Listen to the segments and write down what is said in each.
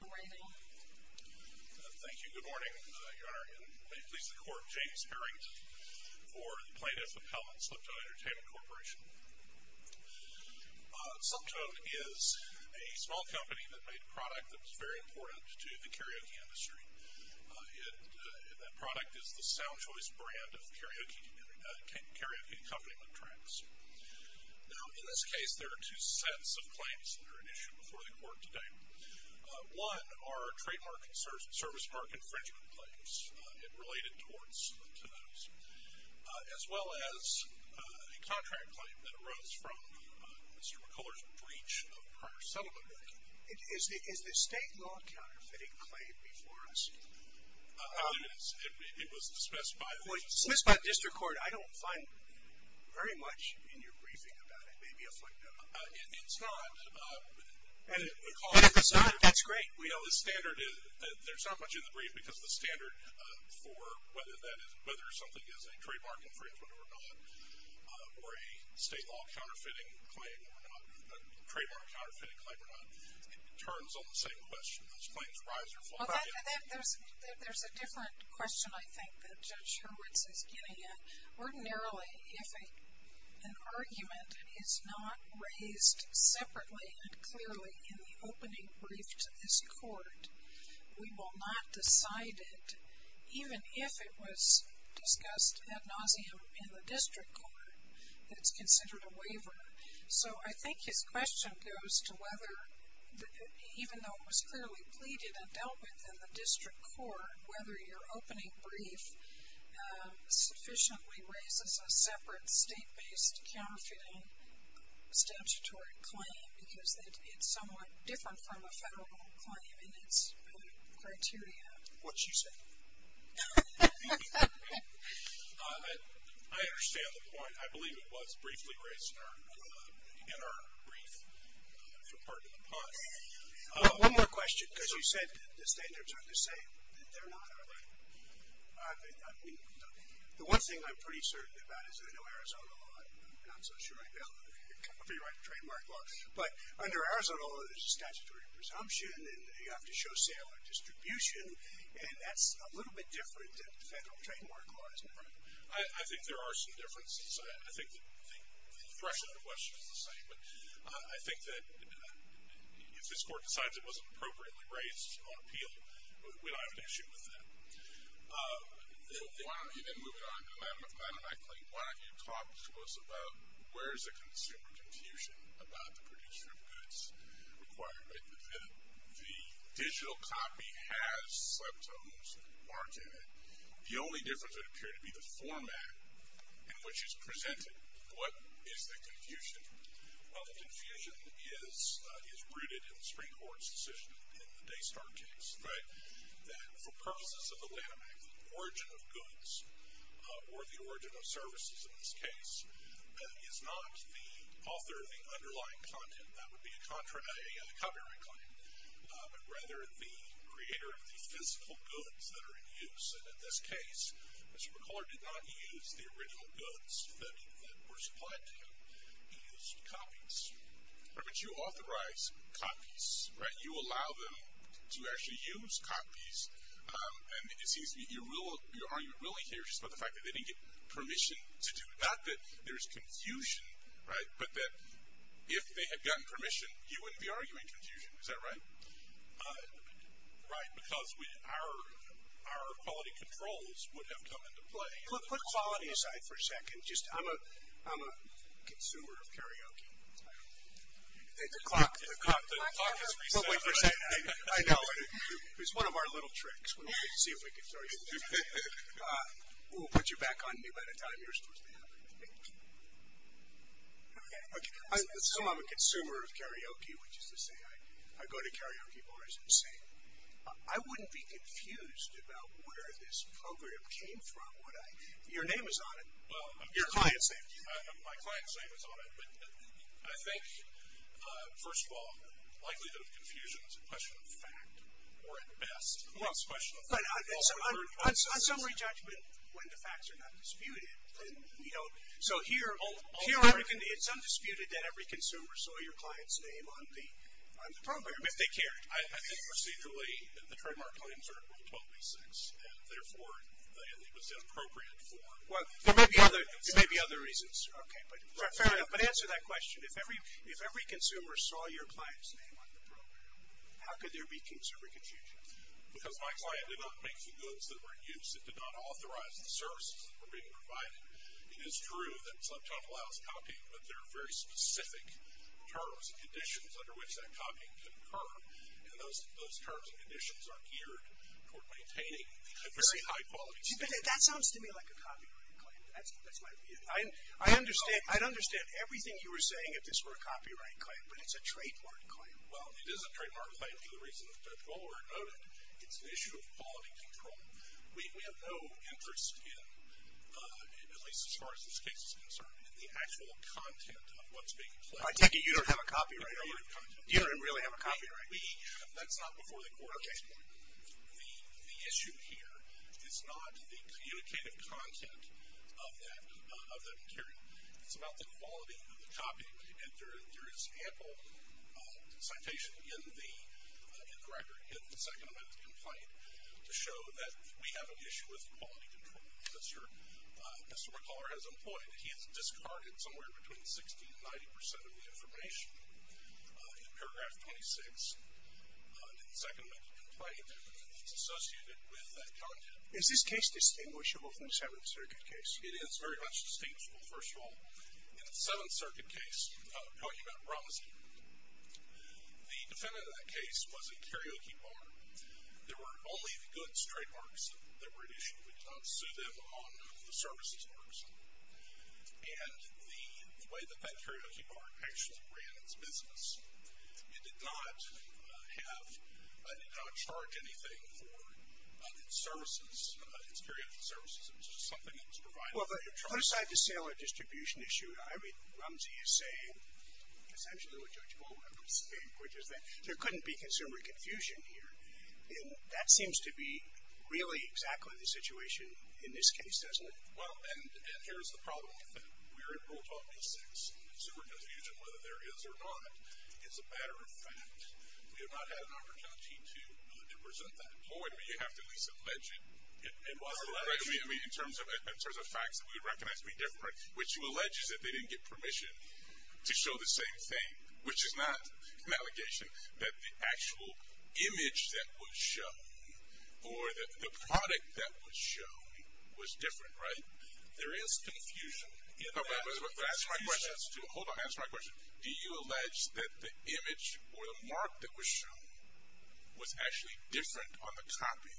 Thank you. Good morning, Your Honor, and may it please the Court, James Herrington for the Plaintiff Appellant, Slep-Tone Entertainment Corp. Slep-Tone is a small company that made a product that was very important to the karaoke industry. That product is the Sound Choice brand of karaoke accompaniment tracks. Now, in this case, there are two sets of claims that are at issue before the Court today. One are trademark and service market infringement claims, and related torts to those, as well as a contract claim that arose from Mr. McCullers' breach of prior settlement making. Is the state law counterfeiting claim before us? It is. It was dismissed by the District Court. Dismissed by the District Court. I don't find very much in your briefing about it. Maybe a footnote. It's not. It's not? That's great. Well, the standard is, there's not much in the brief, because the standard for whether something is a trademark infringement or not, or a state law counterfeiting claim or not, a trademark counterfeiting claim or not, it turns on the same question. Those claims rise or fall. Well, there's a different question, I think, that Judge Hurwitz is getting at. Ordinarily, if an argument is not raised separately and clearly in the opening brief to this Court, we will not decide it, even if it was discussed ad nauseum in the District Court, that it's considered a waiver. So I think his question goes to whether, even though it was clearly pleaded and dealt with in the District Court, whether your opening brief sufficiently raises a separate state-based counterfeiting statutory claim, because it's somewhat different from a federal claim in its criteria. What's she saying? I understand the point. I believe it was briefly raised in our brief for part of the pod. One more question, because you said that the standards are the same. They're not, are they? The one thing I'm pretty certain about is that I know Arizona law. I'm not so sure I'd be able to copyright a trademark law. But under Arizona law, there's a statutory presumption, and you have to show sale or distribution. And that's a little bit different than federal trademark law, isn't it? Right. I think there are some differences. I think the threshold question is the same. But I think that if this Court decides it wasn't appropriately raised on appeal, we don't have an issue with that. And moving on, Madam McClain, one of your talks was about where is the consumer confusion about the producer of goods requirement. The digital copy has subtones marked in it. The only difference would appear to be the format in which it's presented. What is the confusion? Well, the confusion is rooted in the Supreme Court's decision in the Daystar case that for purposes of the landmark, the origin of goods or the origin of services in this case is not the author of the underlying content. That would be a copyright claim. But rather the creator of the physical goods that are in use. And in this case, Mr. McCuller did not use the original goods that were supplied to him. He used copies. But you authorize copies, right? You allow them to actually use copies. And it seems to me you're arguing really here just about the fact that they didn't get permission to do it. Not that there's confusion, right? But that if they had gotten permission, you wouldn't be arguing confusion. Is that right? Right. Because our quality controls would have come into play. Put quality aside for a second. I'm a consumer of karaoke. The clock has reset. I know. It was one of our little tricks. Let's see if we can show you. We'll put you back on mute by the time you're supposed to have it. Okay. I assume I'm a consumer of karaoke, which is to say I go to karaoke bars and sing. I wouldn't be confused about where this program came from, would I? Your name is on it. Your client's name. My client's name is on it. But I think, first of all, the likelihood of confusion is a question of fact or at best. On summary judgment, when the facts are not disputed, then we don't. So here it's undisputed that every consumer saw your client's name on the program. If they cared. I think procedurally the trademark claims are 1286, and therefore it was inappropriate for. Well, there may be other reasons. Okay. But fair enough. But answer that question. If every consumer saw your client's name on the program, how could there be consumer confusion? Because my client did not make the goods that were in use. It did not authorize the services that were being provided. It is true that Sleptop allows copying, but there are very specific terms and conditions under which that copying can occur, and those terms and conditions are geared toward maintaining high-quality standards. That sounds to me like a copyright claim. That's my view. I'd understand everything you were saying if this were a copyright claim, but it's a trademark claim. Well, it is a trademark claim for the reason that both were noted. It's an issue of quality control. We have no interest in, at least as far as this case is concerned, in the actual content of what's being claimed. I take it you don't have a copyright. I don't have content. You don't really have a copyright. That's not before the court. Okay. The issue here is not the communicative content of that material. It's about the quality of the copy. And there is ample citation in the record, in the second amendment complaint, to show that we have an issue with quality control. Mr. McCuller has employed it. He has discarded somewhere between 60% and 90% of the information in Paragraph 26, in the second amendment complaint, that's associated with that content. Is this case distinguishable from the Seventh Circuit case? It is very much distinguishable, first of all. In the Seventh Circuit case, we're talking about Robinson. The defendant in that case was a karaoke bar. There were only the goods trademarks that were at issue. We did not sue them on the services marks. And the way that that karaoke bar actually ran its business, it did not charge anything for its services, its karaoke services. It was just something that was provided. Well, but put aside the sale or distribution issue, I read Rumsey as saying essentially what Judge Bowman was saying, which is that there couldn't be consumer confusion here. And that seems to be really exactly the situation in this case, doesn't it? Well, and here's the problem with that. We're in Rule 12.6. Consumer confusion, whether there is or not, is a matter of fact. We have not had an opportunity to present that. Boy, do we have to at least allege it. I mean, in terms of facts that we would recognize to be different, which you allege is that they didn't get permission to show the same thing, which is not an allegation, that the actual image that was shown or the product that was shown was different, right? There is confusion in that. Hold on, answer my question. Do you allege that the image or the mark that was shown was actually different on the copy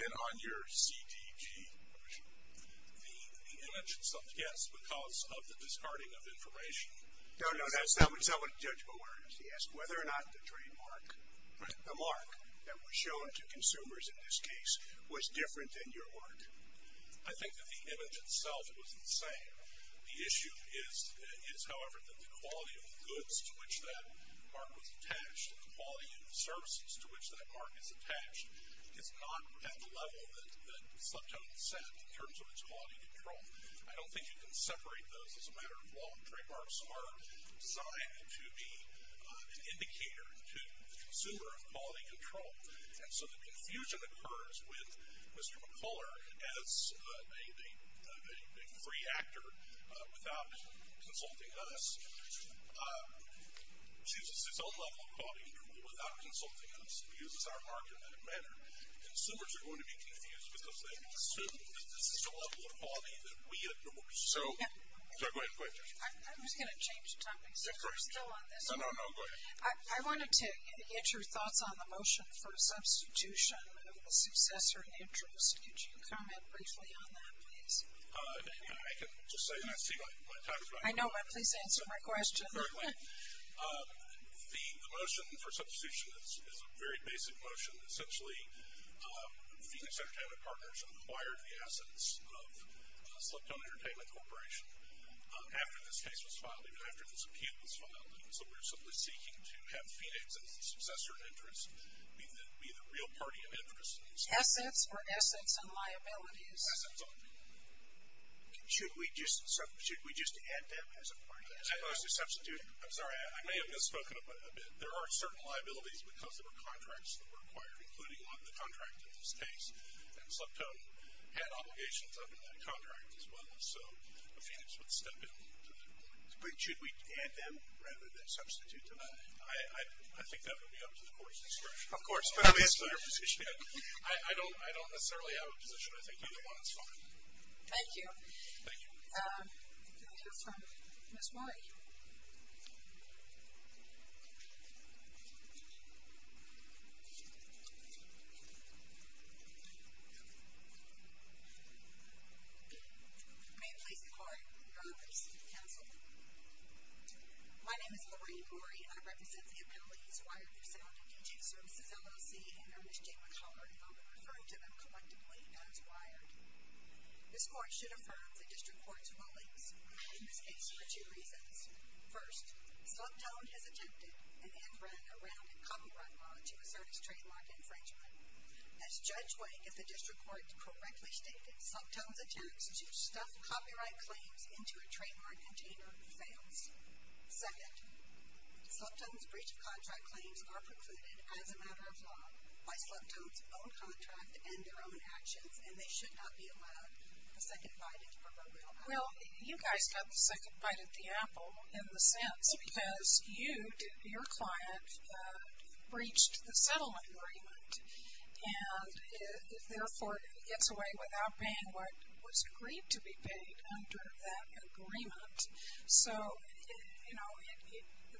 than on your CDG version? The image itself, yes, because of the discarding of information. No, no, that's not what Judge Bowman asked. He asked whether or not the trademark, the mark that was shown to consumers in this case, was different than your mark. I think that the image itself was the same. The issue is, however, that the quality of the goods to which that mark was attached and the quality of the services to which that mark is attached is not at the level that Sleptone set in terms of its quality control. I don't think you can separate those as a matter of law. Trademarks are designed to be an indicator to the consumer of quality control. And so the confusion occurs with Mr. McCuller as a free actor, without consulting us. He uses his own level of quality control without consulting us. He uses our mark in that manner. Consumers are going to be confused, because they assume that this is the level of quality that we endorse. So, go ahead, go ahead, Judge. I'm just going to change the topic since we're still on this. No, no, no, go ahead. I wanted to get your thoughts on the motion for substitution of the successor interest. Could you comment briefly on that, please? I can just say, and I see my time is running out. I know, but please answer my question. Correctly. The motion for substitution is a very basic motion. Essentially, Phoenix Entertainment Partners acquired the assets of Sleptone Entertainment Corporation after this case was filed, even after this appeal was filed. And so we're simply seeking to have Phoenix's successor interest be the real party of interest. Assets or assets and liabilities? Assets only. Should we just substitute, should we just add them as a party as opposed to substitute? I'm sorry, I may have misspoken a bit. There are certain liabilities, because there were contracts that were acquired, including on the contract in this case. And Sleptone had obligations under that contract as well. So, Phoenix would step in on them at that point. But should we add them rather than substitute them? I think that would be up to the Court's discretion. Of course. It's going to be a similar position. I don't necessarily have a position. I think either one is fine. Thank you. Thank you. The next one, Ms. Mori. May it please the Court, Your Honor, I seek counsel. My name is Lorraine Mori, and I represent the appellees who hired their sound and DJ services LLC, and are Ms. Jane McHollard, and will be referring to them collectively as wired. This Court should affirm the District Court's rulings in this case for two reasons. First, Sleptone has attempted and ran around a copyright law to assert its trademark infringement. As Judge Wake of the District Court correctly stated, Sleptone's attempt to stuff copyright claims into a trademark container fails. Second, Sleptone's breach of contract claims are precluded as a matter of law by Sleptone's own contract and their own actions, and they should not be allowed a second bite at the proverbial apple. Well, you guys got the second bite at the apple in the sense because you, your client, breached the settlement agreement, and therefore gets away without paying what was agreed to be paid under that agreement. So, you know,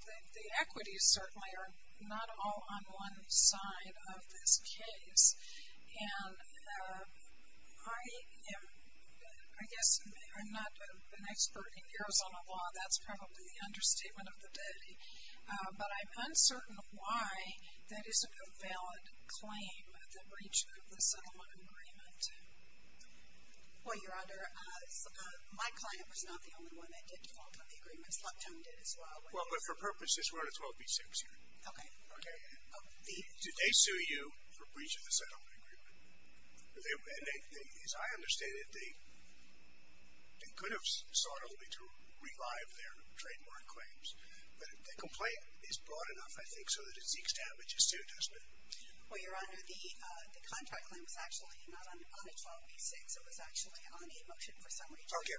the equities certainly are not all on one side of this case, and I am, I guess I'm not an expert in Arizona law. That's probably the understatement of the day, but I'm uncertain why that isn't a valid claim at the breach of the settlement agreement. Well, Your Honor, my client was not the only one that did default on the agreement. Sleptone did as well. Well, but for purposes, we're on a 12 v. 6 here. Okay. Okay. Did they sue you for breach of the settlement agreement? As I understand it, they could have sought only to revive their trademark claims, but the complaint is broad enough, I think, so that it's the extent that you sued, hasn't it? Well, Your Honor, the contract claim was actually not on a 12 v. 6. It was actually on a motion for some reason. Okay.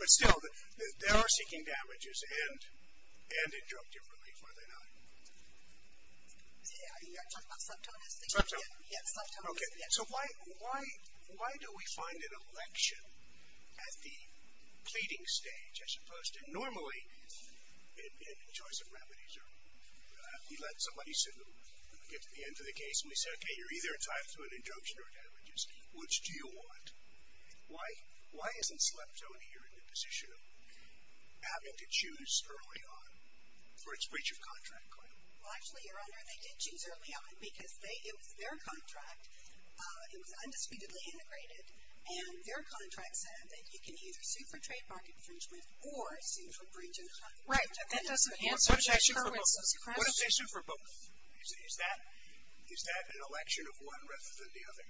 But still, they are seeking damages, and it drove differently, were they not? Are you talking about Sleptone? Sleptone. Yes, Sleptone. Okay. So why do we find an election at the pleading stage as opposed to normally, in the choice of remedies? You let somebody get to the end of the case, and we say, okay, you're either entitled to an introspection or damages. Which do you want? Why isn't Sleptone here in the position of having to choose early on for its breach of contract claim? Well, actually, Your Honor, they did choose early on because it was their contract. It was undisputedly integrated, and their contract said that you can either sue for trademark infringement or sue for breach of contract. Right, but that doesn't answer the circumstances. What if they sued for both? Is that an election of one rather than the other?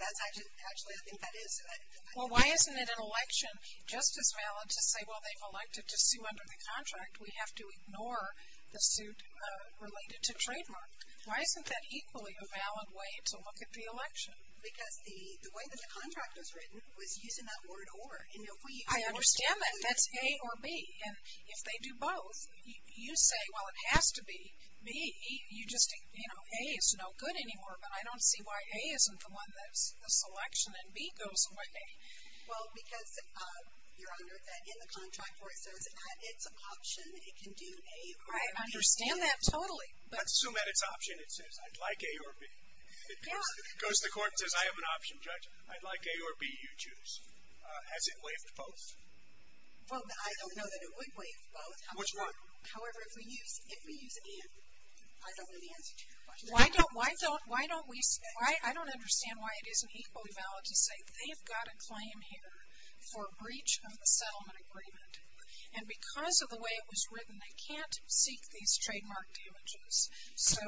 Actually, I think that is. Well, why isn't it an election just as valid to say, well, they've elected to sue under the contract. We have to ignore the suit related to trademark. Why isn't that equally a valid way to look at the election? Because the way that the contract was written was using that word or. I understand that. That's A or B. And if they do both, you say, well, it has to be B. You just, you know, A is no good anymore. But I don't see why A isn't the one that's the selection and B goes away. Well, because, Your Honor, in the contract where it says it's an option, it can do A or B. I understand that totally. Let's assume that it's an option. It says, I'd like A or B. It goes to court and says, I have an option, Judge. I'd like A or B, you choose. Has it waived both? Well, I don't know that it would waive both. Which one? However, if we use, if we use A, I don't know the answer to that. Why don't, why don't, why don't we, I don't understand why it isn't equally valid to say, they've got a claim here for breach of the settlement agreement. And because of the way it was written, they can't seek these trademark damages. So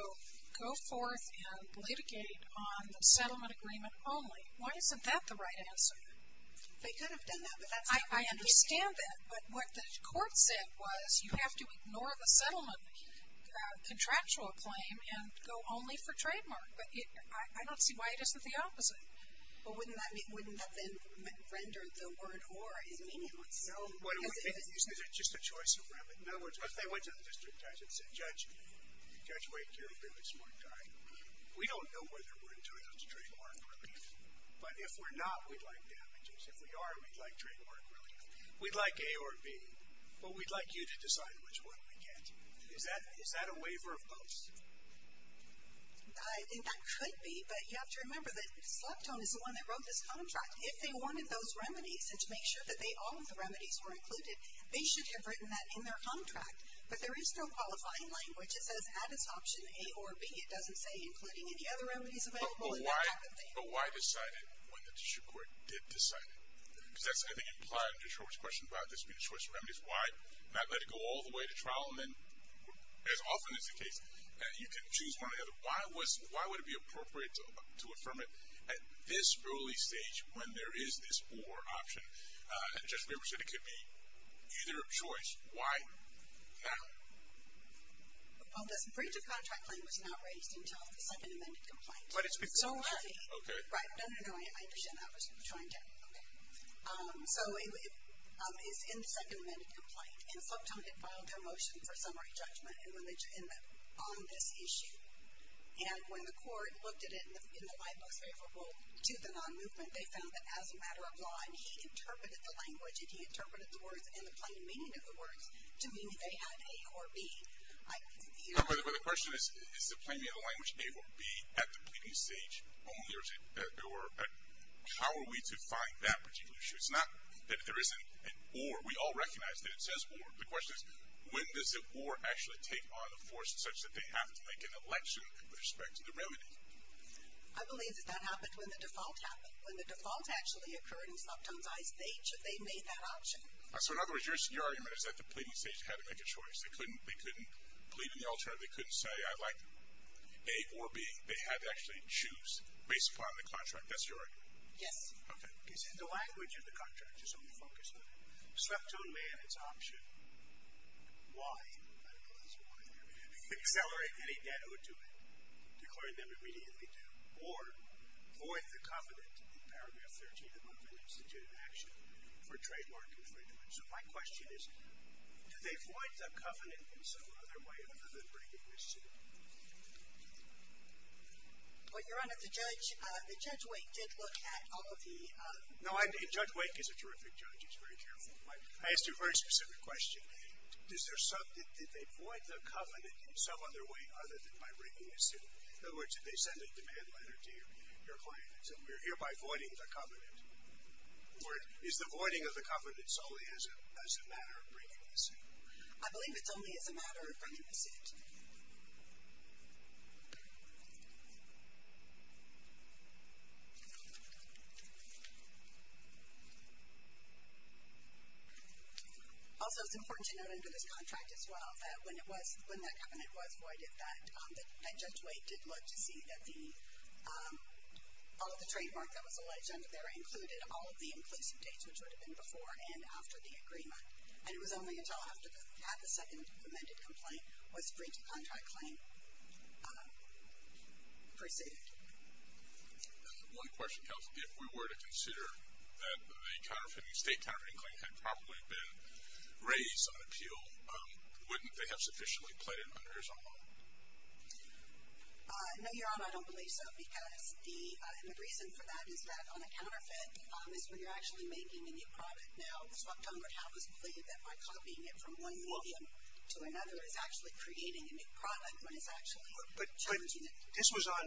go forth and litigate on the settlement agreement only. Why isn't that the right answer? They could have done that, but that's not what they did. I understand that. But what the court said was, you have to ignore the settlement contractual claim and go only for trademark. But I don't see why it isn't the opposite. But wouldn't that then render the word or as meaningless? No. Is it just a choice of remedy? In other words, what if they went to the district judge and said, Judge, Judge Wake, you're a really smart guy. We don't know whether we're entitled to trademark relief. But if we're not, we'd like damages. If we are, we'd like trademark relief. We'd like A or B, but we'd like you to decide which one we get. Is that, is that a waiver of both? I think that could be. But you have to remember that Selectone is the one that wrote this contract. If they wanted those remedies and to make sure that they, all of the remedies were included, they should have written that in their contract. But there is no qualifying language. It just says add as option A or B. It doesn't say including any other remedies available and that type of thing. But why decide it when the district court did decide it? Because that's, I think, implied in Judge Howard's question about this being a choice of remedies. Why not let it go all the way to trial and then, as often is the case, you can choose one or the other. Why would it be appropriate to affirm it at this early stage when there is this or option? And Judge Weber said it could be either choice. Why not? Well, this breach of contract claim was not raised until the second amended complaint. But it's because of that. Right. No, no, no. I understand that. I was trying to. Okay. So it's in the second amended complaint. And Selectone had filed their motion for summary judgment on this issue. And when the court looked at it in the light most favorable to the non-movement, they found that as a matter of law, and he interpreted the language and he interpreted the words and the plain meaning of the words to mean they had A or B. But the question is, is the plain meaning of the language A or B at the pleading stage only, or how are we to find that particular issue? It's not that there isn't an or. We all recognize that it says or. The question is, when does an or actually take on a force such that they have to make an election with respect to the remedy? I believe that that happened when the default happened. So, in other words, your argument is that the pleading stage had to make a choice. They couldn't plead in the alternative. They couldn't say, I'd like A or B. They had to actually choose based upon the contract. That's your argument? Yes. Okay. The language of the contract, just let me focus on it. Selectone may have its option. Why? I don't know. Accelerate any debt or do it. Declaring them immediately due. Or, void the covenant in paragraph 13 of an instituted action for trademark infringement. So, my question is, do they void the covenant in some other way other than breaking the suit? Well, Your Honor, the judge, Judge Wake did look at all of the No, Judge Wake is a terrific judge. He's very careful. I asked you a very specific question. Did they void the covenant in some other way other than by breaking the suit? In other words, did they send a demand letter to your client and say, we're hereby voiding the covenant? Is the voiding of the covenant solely as a matter of breaking the suit? I believe it's only as a matter of breaking the suit. Also, it's important to note under this contract as well that when that covenant was voided, that Judge Wake did look to see that all of the trademark that was alleged under there included all of the inclusive dates, which would have been before and after the agreement. And it was only until after they had the second amended complaint was the breach of contract claim preceded. One question, counsel. If we were to consider that the state counterfeiting claim had probably been raised on appeal, wouldn't they have sufficiently pleaded under his own law? No, Your Honor, I don't believe so. Because the reason for that is that on a counterfeit is when you're actually making a new product. Now, this month, Congress has pleaded that by copying it from one medium to another, it's actually creating a new product when it's actually challenging it. But this was on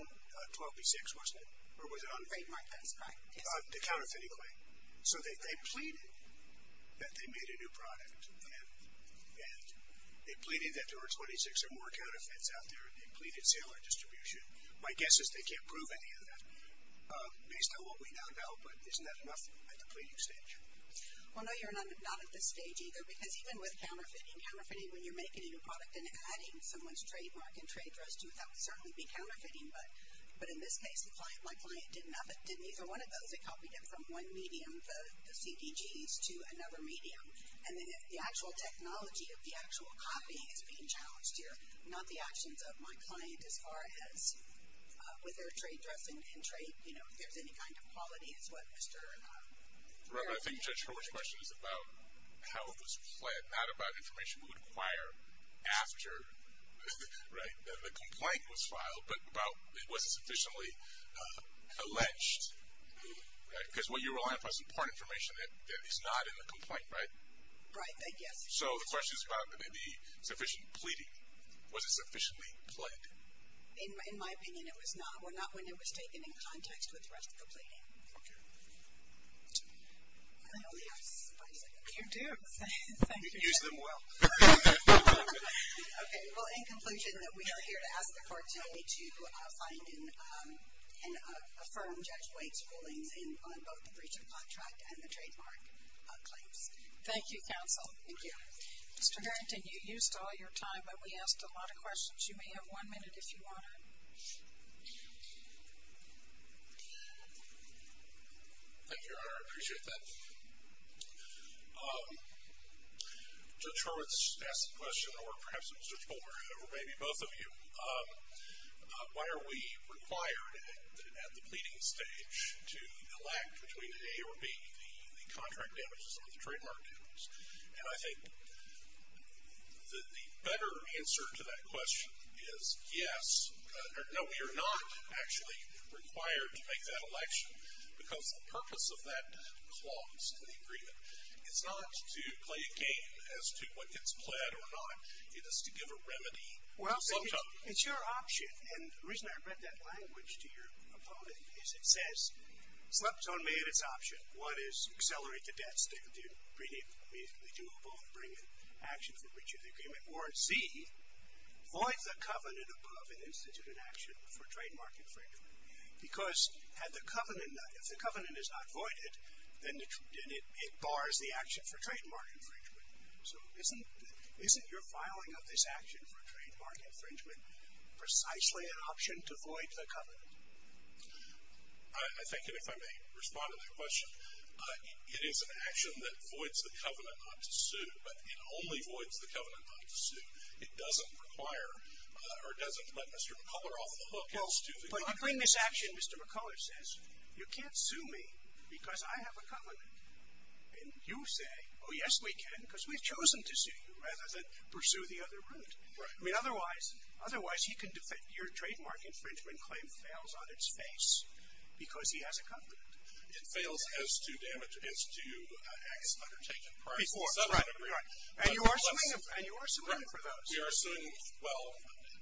12B6, wasn't it? Or was it on? Trademark, that is correct. The counterfeiting claim. So they pleaded that they made a new product, and they pleaded that there were 26 or more counterfeits out there, and they pleaded sale or distribution. My guess is they can't prove any of that based on what we now know. But isn't that enough at the pleading stage? Well, no, Your Honor, not at this stage either. Because even with counterfeiting, counterfeiting when you're making a new product and adding someone's trademark and trade draws to it, that would certainly be counterfeiting. But in this case, my client didn't either one of those. They copied it from one medium, the CDGs, to another medium. And then if the actual technology of the actual copy is being challenged here, not the actions of my client as far as with their trade dress and trade, you know, if there's any kind of quality is what Mr. ______. Right, but I think Judge Horwitz's question is about how it was pled, not about information we would acquire after, right, the complaint was filed, but about was it sufficiently alleged, right? Because what you're relying upon is important information that is not in the complaint, right? Right, I guess. So the question is about the sufficient pleading. Was it sufficiently pled? In my opinion, it was not. Well, not when it was taken in context with the rest of the pleading. Okay. I only have five seconds. You do. Thank you. Use them well. Okay, well, in conclusion, we are here to ask the court to find and affirm Judge White's rulings on both the breach of contract and the trademark claims. Thank you, counsel. Thank you. Mr. Harrington, you used all your time, but we asked a lot of questions. You may have one minute if you want to. Thank you, Your Honor. I appreciate that. Judge Hurwitz asked the question, or perhaps Mr. Tolbert, or maybe both of you, why are we required at the pleading stage to elect between A or B, the contract damages or the trademark damages? And I think the better answer to that question is yes, no, we are not actually required to make that election, because the purpose of that clause in the agreement is not to play a game as to what gets pled or not. It is to give a remedy. Well, it's your option. And the reason I read that language to your opponent is it says, Sleptone made its option. One is accelerate the debts. They do both bring an action for breach of the agreement. Or C, void the covenant above an institute in action for trademark infringement. Because if the covenant is not voided, then it bars the action for trademark infringement. So isn't your filing of this action for trademark infringement precisely an option to void the covenant? I think, and if I may respond to that question, it is an action that voids the covenant not to sue, but it only voids the covenant not to sue. It doesn't require, or it doesn't let Mr. McCuller off the hook. But you bring this action, Mr. McCuller says, you can't sue me because I have a covenant. And you say, oh, yes, we can, because we've chosen to sue you, rather than pursue the other route. I mean, otherwise, your trademark infringement claim fails on its face because he has a covenant. It fails as to damage, as to acts undertaken prior to some agreement. And you are suing him for those. We are suing, well,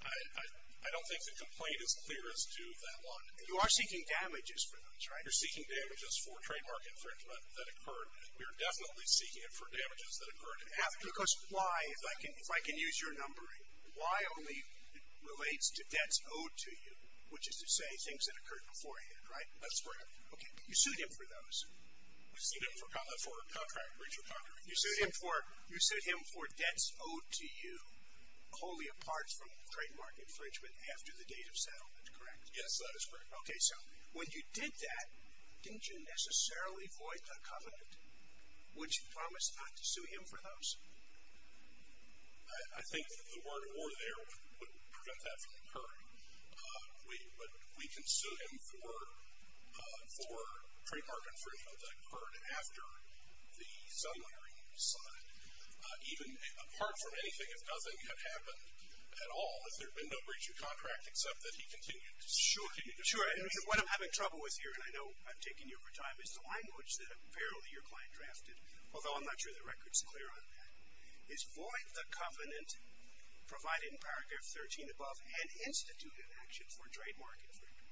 I don't think the complaint is clear as to that one. You are seeking damages for those, right? You're seeking damages for trademark infringement that occurred. We are definitely seeking it for damages that occurred after. Because why, if I can use your numbering, why only relates to debts owed to you, which is to say things that occurred beforehand, right? That's correct. Okay. You sued him for those. You sued him for contract breach of contract. You sued him for debts owed to you wholly apart from trademark infringement after the date of settlement, correct? Yes, that is correct. Okay. So when you did that, didn't you necessarily void the covenant? Would you promise not to sue him for those? I think the word or there would prevent that from occurring. But we can sue him for trademark infringement that occurred after the settlement agreement was signed. Even apart from anything, if nothing had happened at all, has there been no breach of contract except that he continued to sue? Sure. And what I'm having trouble with here, and I know I'm taking you over time, is the language that apparently your client drafted, although I'm not sure the record is clear on that, is void the covenant provided in paragraph 13 above and institute an action for trademark infringement.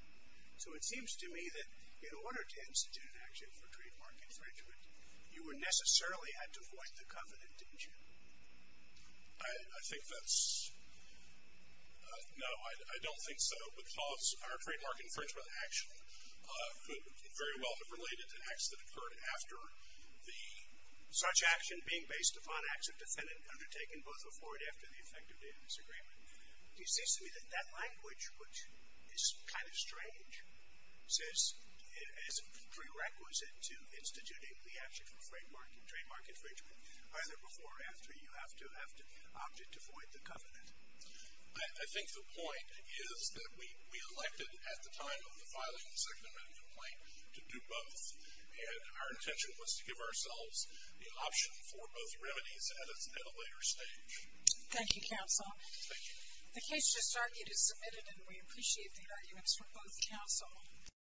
So it seems to me that in order to institute an action for trademark infringement, you necessarily had to void the covenant, didn't you? I think that's no, I don't think so, because our trademark infringement action could very well have related to acts that occurred after the such action being based upon acts of defendant undertaken both before and after the effective date of this agreement. It seems to me that that language, which is kind of strange, says it's a prerequisite to instituting the action for trademark infringement either before or after you have to opt it to void the covenant. I think the point is that we elected at the time of the filing of the second amendment complaint to do both, and our intention was to give ourselves the option for both remedies at a later stage. Thank you, counsel. Thank you. The case just argued is submitted, and we appreciate the arguments from both counsel.